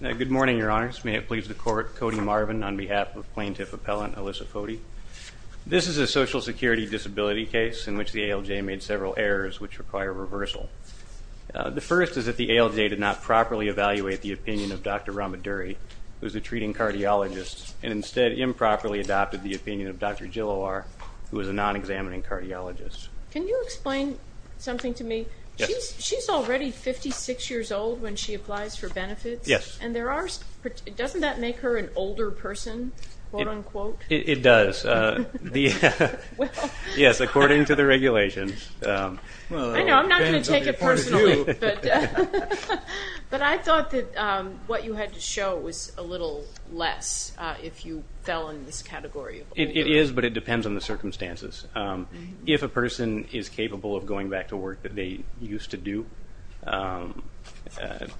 Good morning, your honors. May it please the court, Cody Marvin on behalf of plaintiff appellant Elissa Fody. This is a social security disability case in which the ALJ made several errors which require reversal. The first is that the ALJ did not properly evaluate the opinion of Dr. Ramaduri, who is a treating cardiologist, and instead improperly adopted the opinion of Dr. Jilloar, who is a non-examining cardiologist. Can you explain something to me? She's already 56 years old when she applies for benefits, and doesn't that make her an older person, quote-unquote? It does, yes, according to the regulations. I know, I'm not going to take it personally, but I thought that what you had to show was a little less if you fell in this category. It is, but it depends on the circumstances. If a person is capable of going back to work that they used to do,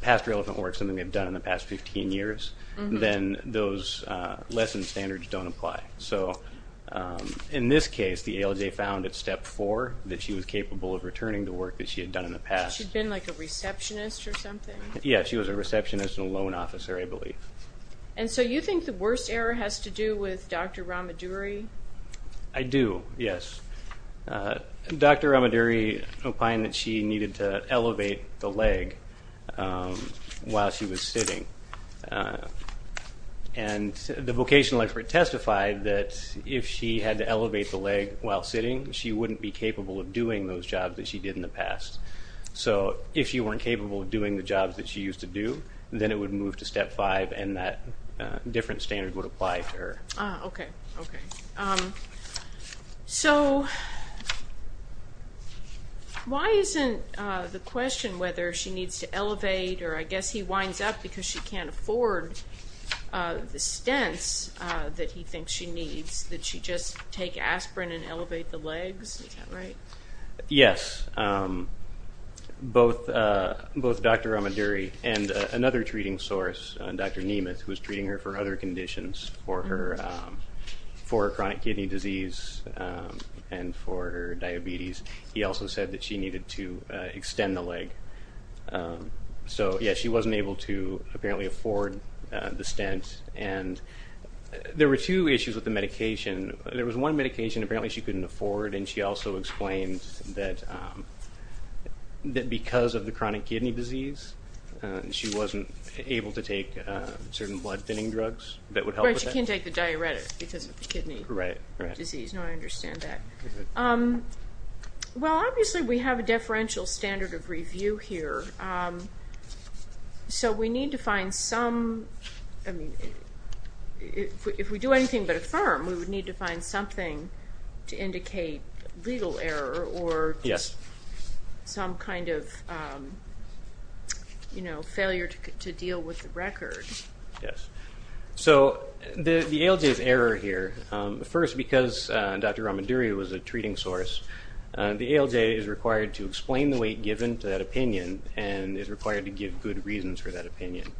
past relevant work, something they've done in the past 15 years, then those lessened standards don't apply. So in this case, the ALJ found at step four that she was capable of returning to work that she had done in the past. She'd been like a receptionist or something? Yeah, she was a receptionist and a loan officer, I believe. And so you think the worst error has to do with Dr. Ramaduri? I do, yes. Dr. Ramaduri opined that she needed to elevate the leg while she was sitting. And the vocational expert testified that if she had to elevate the leg while sitting, she wouldn't be capable of doing those jobs that she did in the past. So if she weren't capable of doing the jobs that she used to do, then it would move to that different standard would apply to her. Ah, okay, okay. So why isn't the question whether she needs to elevate, or I guess he winds up because she can't afford the stents that he thinks she needs, that she just take aspirin and elevate the legs? Is that right? Yes. Both Dr. Ramaduri and another treating source, Dr. Nemeth, who was treating her for other conditions for her chronic kidney disease and for diabetes, he also said that she needed to extend the leg. So yeah, she wasn't able to apparently afford the stents. And there were two issues with the medication. There was one medication apparently she couldn't afford, and she also explained that because of the chronic kidney disease, she wasn't able to take certain blood thinning drugs that would help with that. Right, she can't take the diuretic because of the kidney disease. No, I understand that. Well obviously we have a deferential standard of review here. So we need to find some, I would need to find something to indicate legal error or some kind of failure to deal with the record. So the ALJ's error here, first because Dr. Ramaduri was a treating source, the ALJ is required to explain the weight given to that opinion and is required to give good reasons for that opinion.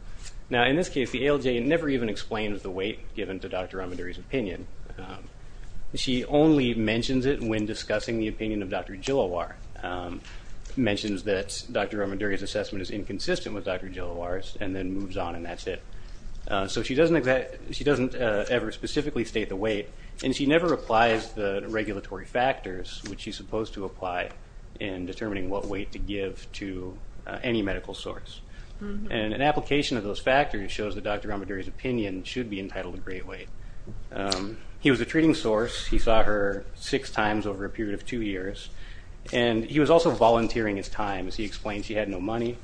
Now in this case, the ALJ never even explains the weight given to Dr. Ramaduri. She only mentions it when discussing the opinion of Dr. Jillawar. She mentions that Dr. Ramaduri's assessment is inconsistent with Dr. Jillawar's and then moves on and that's it. So she doesn't ever specifically state the weight, and she never applies the regulatory factors which she's supposed to apply in determining what weight to give to any medical source. And an application of those factors shows that Dr. Ramaduri's opinion should be entitled to great weight. He was a treating source. He saw her six times over a period of two years. And he was also volunteering his time. As he explained, she had no money.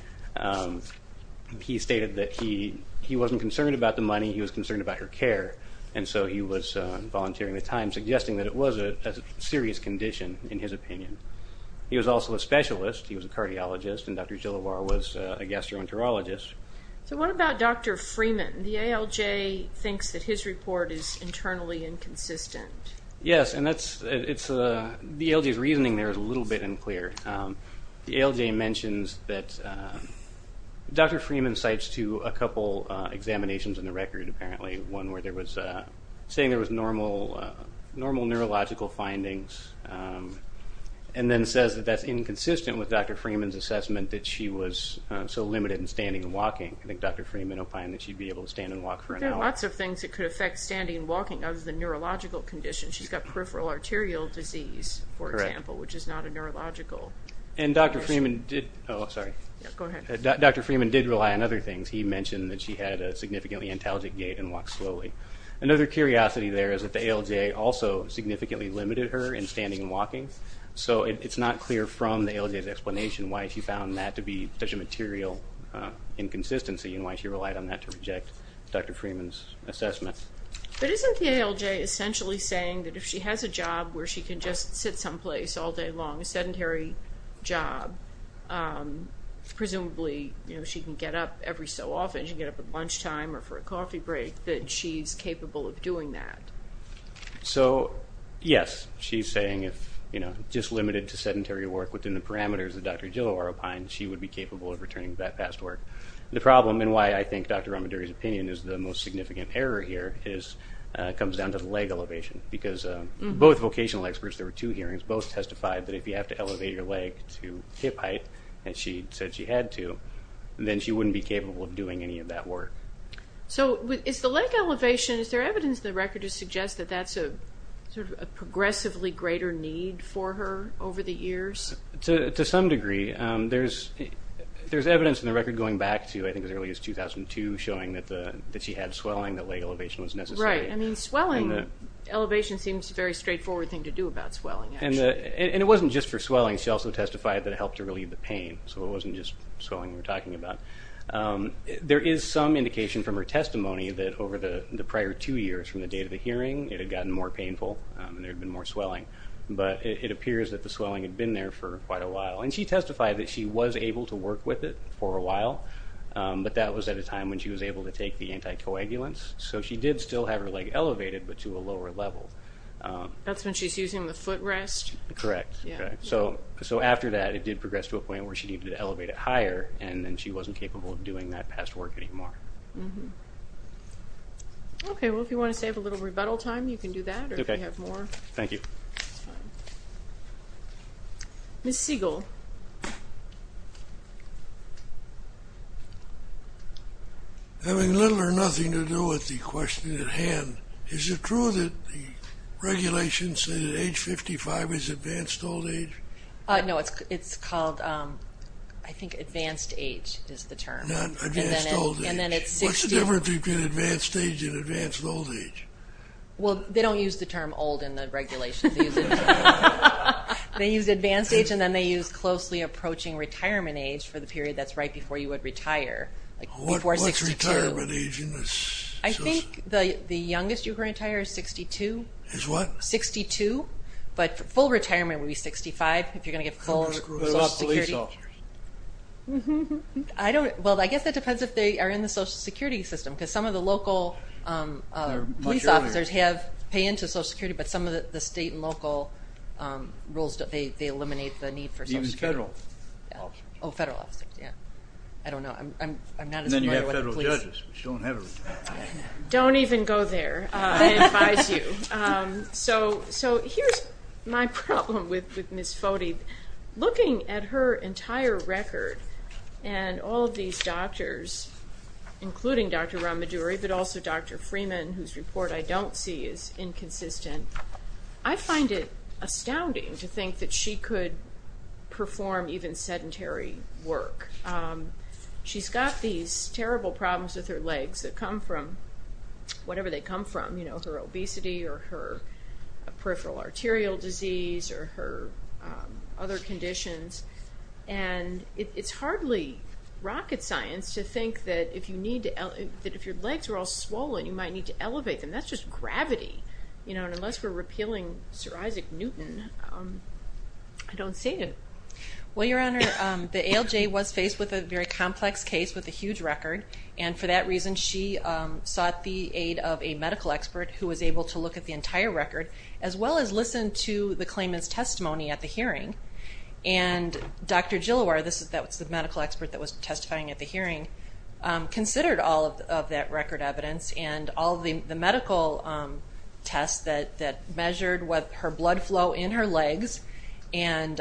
He stated that he wasn't concerned about the money, he was concerned about her care. And so he was volunteering the time, suggesting that it was a serious condition in his opinion. He was also a specialist. He was a cardiologist and Dr. Jillawar was a gastroenterologist. So what about Dr. Freeman? The ALJ thinks that his report is internally inconsistent. Yes, and the ALJ's reasoning there is a little bit unclear. The ALJ mentions that Dr. Freeman cites to a couple examinations in the record apparently, one where there was, saying there was normal neurological findings, and then says that that's inconsistent with Dr. Freeman's opinion. And that she was also limited in standing and walking. I think Dr. Freeman opined that she'd be able to stand and walk for an hour. There are lots of things that could affect standing and walking other than neurological conditions. She's got peripheral arterial disease, for example, which is not a neurological condition. And Dr. Freeman did rely on other things. He mentioned that she had a significantly antalgic gait and walked slowly. Another curiosity there is that the ALJ also significantly limited her in standing and walking. So it's not clear from the ALJ's explanation why she found that to be such a material inconsistency and why she relied on that to reject Dr. Freeman's assessment. But isn't the ALJ essentially saying that if she has a job where she can just sit someplace all day long, a sedentary job, presumably she can get up every so often, she can get up at lunchtime or for a coffee break, that she's capable of doing that? So yes, she's saying if just limited to sedentary work within the parameters that Dr. Gillow are opined, she would be capable of returning to that past work. The problem, and why I think Dr. Ramaduri's opinion is the most significant error here, comes down to the leg elevation. Because both vocational experts, there were two hearings, both testified that if you have to elevate your leg to hip height, and she said she had to, then she wouldn't be capable of doing any of that work. So is the leg elevation, is there evidence in the record to suggest that that's a progressively greater need for her over the years? To some degree. There's evidence in the record going back to, I think, as early as 2002, showing that she had swelling, that leg elevation was necessary. Right. I mean, swelling, elevation seems a very straightforward thing to do about swelling, actually. And it wasn't just for swelling. She also testified that it helped to relieve the pain. So it wasn't just swelling we're talking about. There is some indication from her testimony that over the prior two years, from the date of the hearing, it had gotten more painful and there had been more swelling. But it appears that the swelling had been there for quite a while. And she testified that she was able to work with it for a while, but that was at a time when she was able to take the anticoagulants. So she did still have her leg elevated, but to a lower level. That's when she's using the foot rest? Correct. So after that, it did progress to a point where she needed to elevate it higher, and then she wasn't capable of doing that past work anymore. Okay. Well, if you want to save a little rebuttal time, you can do that, or if you have more... Ms. Siegel. Having little or nothing to do with the question at hand, is it true that the regulations say that age 55 is advanced old age? No, it's called, I think, advanced age is the term. Not advanced old age. And then it's 60. What's the difference between advanced age and advanced old age? Well, they don't use the term old in the regulations. They use advanced age, and then they use closely approaching retirement age for the period that's right before you would retire, like before 62. What's retirement age in the... I think the youngest you can retire is 62. Is what? 62, but full retirement would be 65 if you're going to get full social security. What about police officers? I don't... Well, I guess that depends if they are in the social security system, because some of the local police officers pay into social security, but some of the state and local rules, they eliminate the need for social security. Even federal officers. Oh, federal officers, yeah. I don't know. And then you have federal judges, which don't have a rule. Don't even go there. I advise you. So here's my problem with Ms. Foti. Looking at her entire record and all of these doctors, including Dr. Ramaduri, but also Dr. Freeman, whose report I don't see is inconsistent, I find it astounding to think that she could perform even sedentary work. She's got these terrible problems with her legs that come from whatever they come from, her obesity or her peripheral arterial disease or her other conditions. And it's hardly rocket science to think that if your legs are all swollen, you might need to elevate them. That's just gravity. And unless we're repealing Sir Isaac Newton, I don't see it. Well, Your Honor, the ALJ was faced with a very complex case with a huge record, and for that reason she sought the aid of a medical expert who was able to look at the entire record as well as listen to the claimant's testimony at the hearing. And Dr. Gilliwar, the medical expert that was testifying at the hearing, considered all of that record evidence and all the medical tests that measured her blood flow in her legs and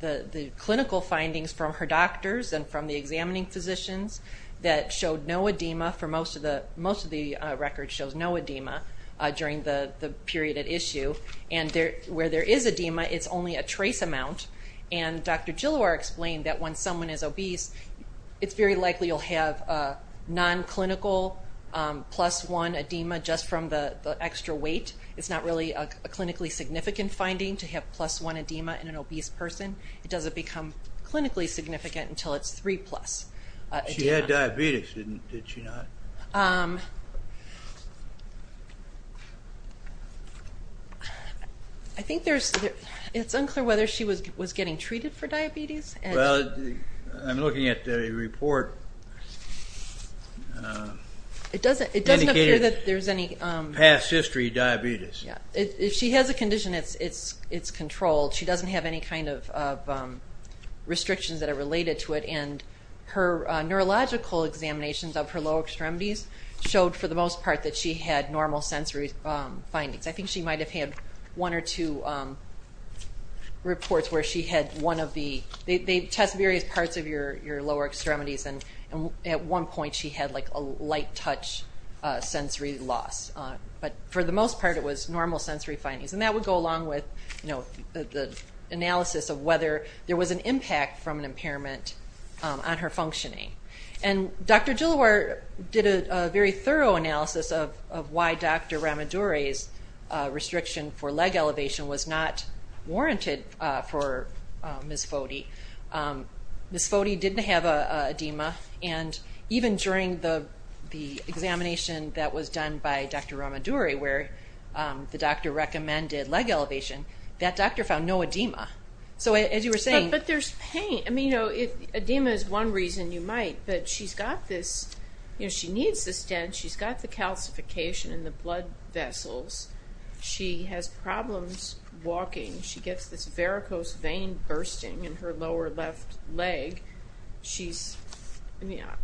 the clinical findings from her doctors and from the examining physicians that showed no edema for most of the record shows no edema during the period at issue. And where there is edema, it's only a trace amount. And Dr. Gilliwar explained that when someone is obese, it's very likely you'll have non-clinical plus one edema just from the extra weight. It's not really a clinically significant finding to have plus one edema in an obese person. It doesn't become clinically significant until it's three plus edema. She had diabetes, did she not? I think it's unclear whether she was getting treated for diabetes. I'm looking at the report. It doesn't appear that there's any... Past history of diabetes. If she has a condition, it's controlled. She doesn't have any kind of restrictions that are related to it. And her neurological examinations of her lower extremities showed for the most part that she had normal sensory findings. I think she might have had one or two reports where she had one of the... They test various parts of your lower extremities, and at one point she had a light touch sensory loss. But for the most part, it was normal sensory findings. And that would go along with the analysis of whether there was an impact from an impairment on her functioning. And Dr. Gilliwar did a very thorough analysis of why Dr. Ramaduri's restriction for leg elevation was not warranted for Ms. Foti. Ms. Foti didn't have edema, and even during the examination that was done by Dr. Ramaduri where the doctor recommended leg elevation, that doctor found no edema. So as you were saying... But there's pain. I mean, edema is one reason you might, but she's got this... She needs this dent. She's got the calcification in the blood vessels. She has problems walking. She gets this varicose vein bursting in her lower left leg. She's...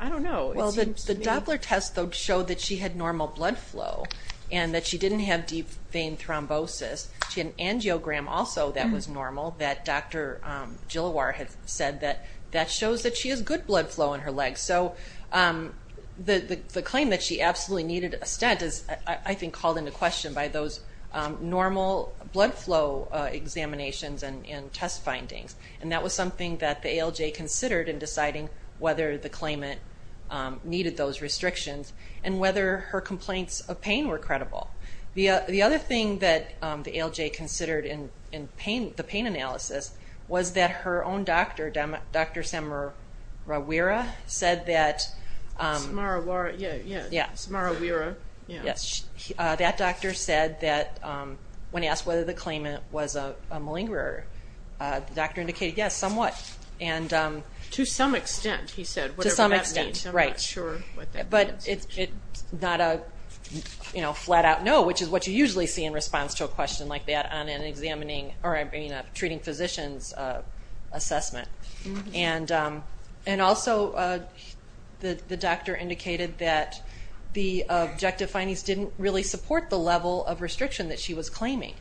I don't know. Well, the Doppler test showed that she had normal blood flow and that she didn't have deep vein thrombosis. She had an angiogram also that was normal that Dr. Gilliwar had said that that shows that she has good blood flow in her legs. So the claim that she absolutely needed a stent is, I think, called into question by those normal blood flow examinations and test findings. And that was something that the ALJ considered in deciding whether the claimant needed those restrictions and whether her complaints of pain were credible. The other thing that the ALJ considered in the pain analysis was that her own doctor, Dr. Samara Wira, said that... Samara Wira. That doctor said that when asked whether the claimant was a malingerer, the doctor indicated, yes, somewhat. To some extent, he said, whatever that means. To some extent, right. But it's not a flat-out no, which is what you usually see in response to a question like that on a treating physician's assessment. And also, the doctor indicated that the objective findings didn't really support the level of restriction that she was claiming.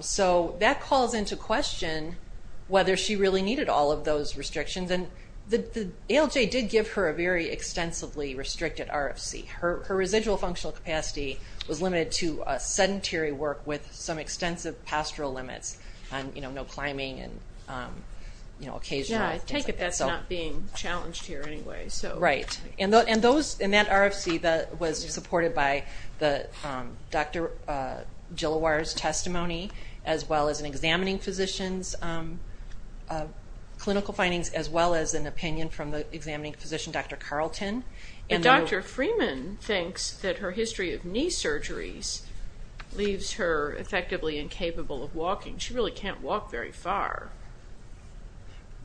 So that calls into question whether she really needed all of those restrictions. And the ALJ did give her a very extensively restricted RFC. Her residual functional capacity was limited to a sedentary work with some extensive pastoral limits, no climbing and occasional things like that. Yeah, I take it that's not being challenged here anyway. Right. And that RFC was supported by Dr. Gilloir's testimony as well as an examining physician's clinical findings as well as an opinion from the examining physician, Dr. Carlton. But Dr. Freeman thinks that her history of knee surgeries leaves her effectively incapable of walking. She really can't walk very far.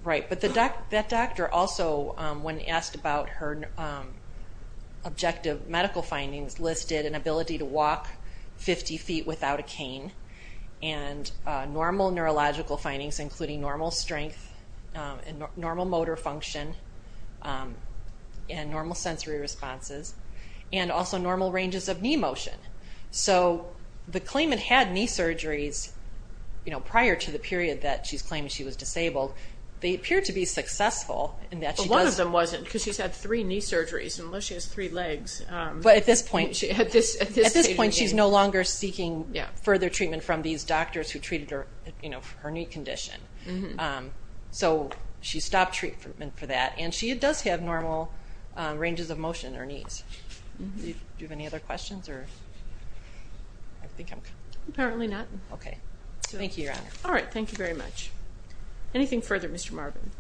Right. But that doctor also, when asked about her objective medical findings, listed an ability to walk 50 feet without a cane and normal neurological findings including normal strength, normal motor function, and normal sensory responses, and also normal ranges of knee motion. So the claimant had knee surgeries prior to the period that she's claiming she was disabled. They appear to be successful in that she doesn't. But one of them wasn't because she's had three knee surgeries. Unless she has three legs. But at this point she's no longer seeking further treatment from these doctors who treated her knee condition. So she stopped treatment for that, and she does have normal ranges of motion in her knees. Do you have any other questions? Apparently not. Okay. Thank you, Your Honor. All right. Thank you very much. Anything further, Mr. Marvin?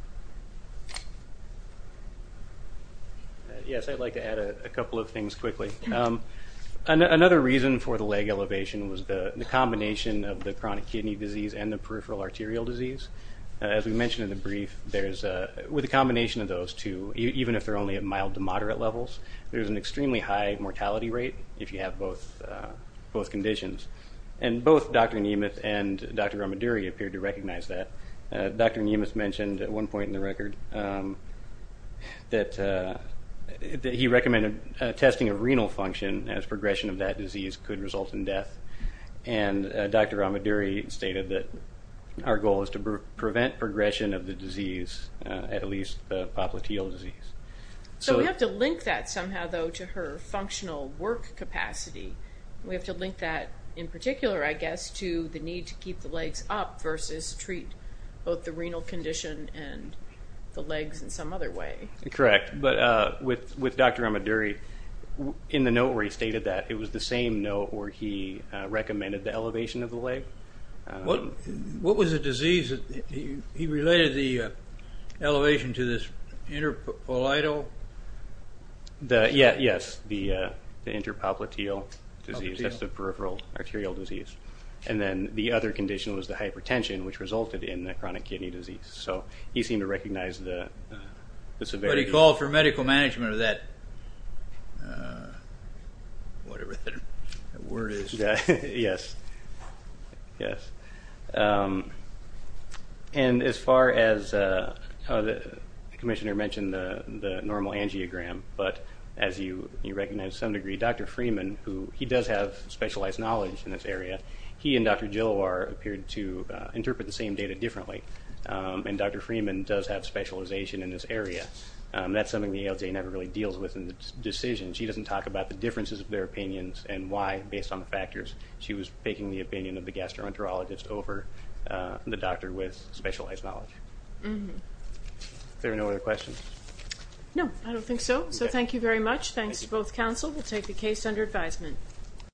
Yes, I'd like to add a couple of things quickly. Another reason for the leg elevation was the combination of the chronic kidney disease and the peripheral arterial disease. As we mentioned in the brief, with a combination of those two, even if they're only at mild to moderate levels, there's an extremely high mortality rate if you have both conditions. And both Dr. Nemeth and Dr. Ramaduri appeared to recognize that. Dr. Nemeth mentioned at one point in the record that he recommended testing a renal function as progression of that disease could result in death. And Dr. Ramaduri stated that our goal is to prevent progression of the disease, at least the popliteal disease. So we have to link that somehow, though, to her functional work capacity. We have to link that in particular, I guess, to the need to keep the legs up versus treat both the renal condition and the legs in some other way. Correct. But with Dr. Ramaduri, in the note where he stated that, it was the same note where he recommended the elevation of the leg. What was the disease? He related the elevation to this interpoliteal? Yes, the interpopliteal disease. That's the peripheral arterial disease. And then the other condition was the hypertension, which resulted in the chronic kidney disease. So he seemed to recognize the severity. But he called for medical management of that whatever that word is. Yes. And as far as the commissioner mentioned the normal angiogram, but as you recognize to some degree, Dr. Freeman, who he does have specialized knowledge in this area, he and Dr. Gilloir appeared to interpret the same data differently. And Dr. Freeman does have specialization in this area. That's something the ALJ never really deals with in the decision. She doesn't talk about the differences of their opinions and why, based on the factors. She was picking the opinion of the gastroenterologist over the doctor with specialized knowledge. Are there no other questions? No, I don't think so. So thank you very much. Thanks to both counsel. We'll take the case under advisement.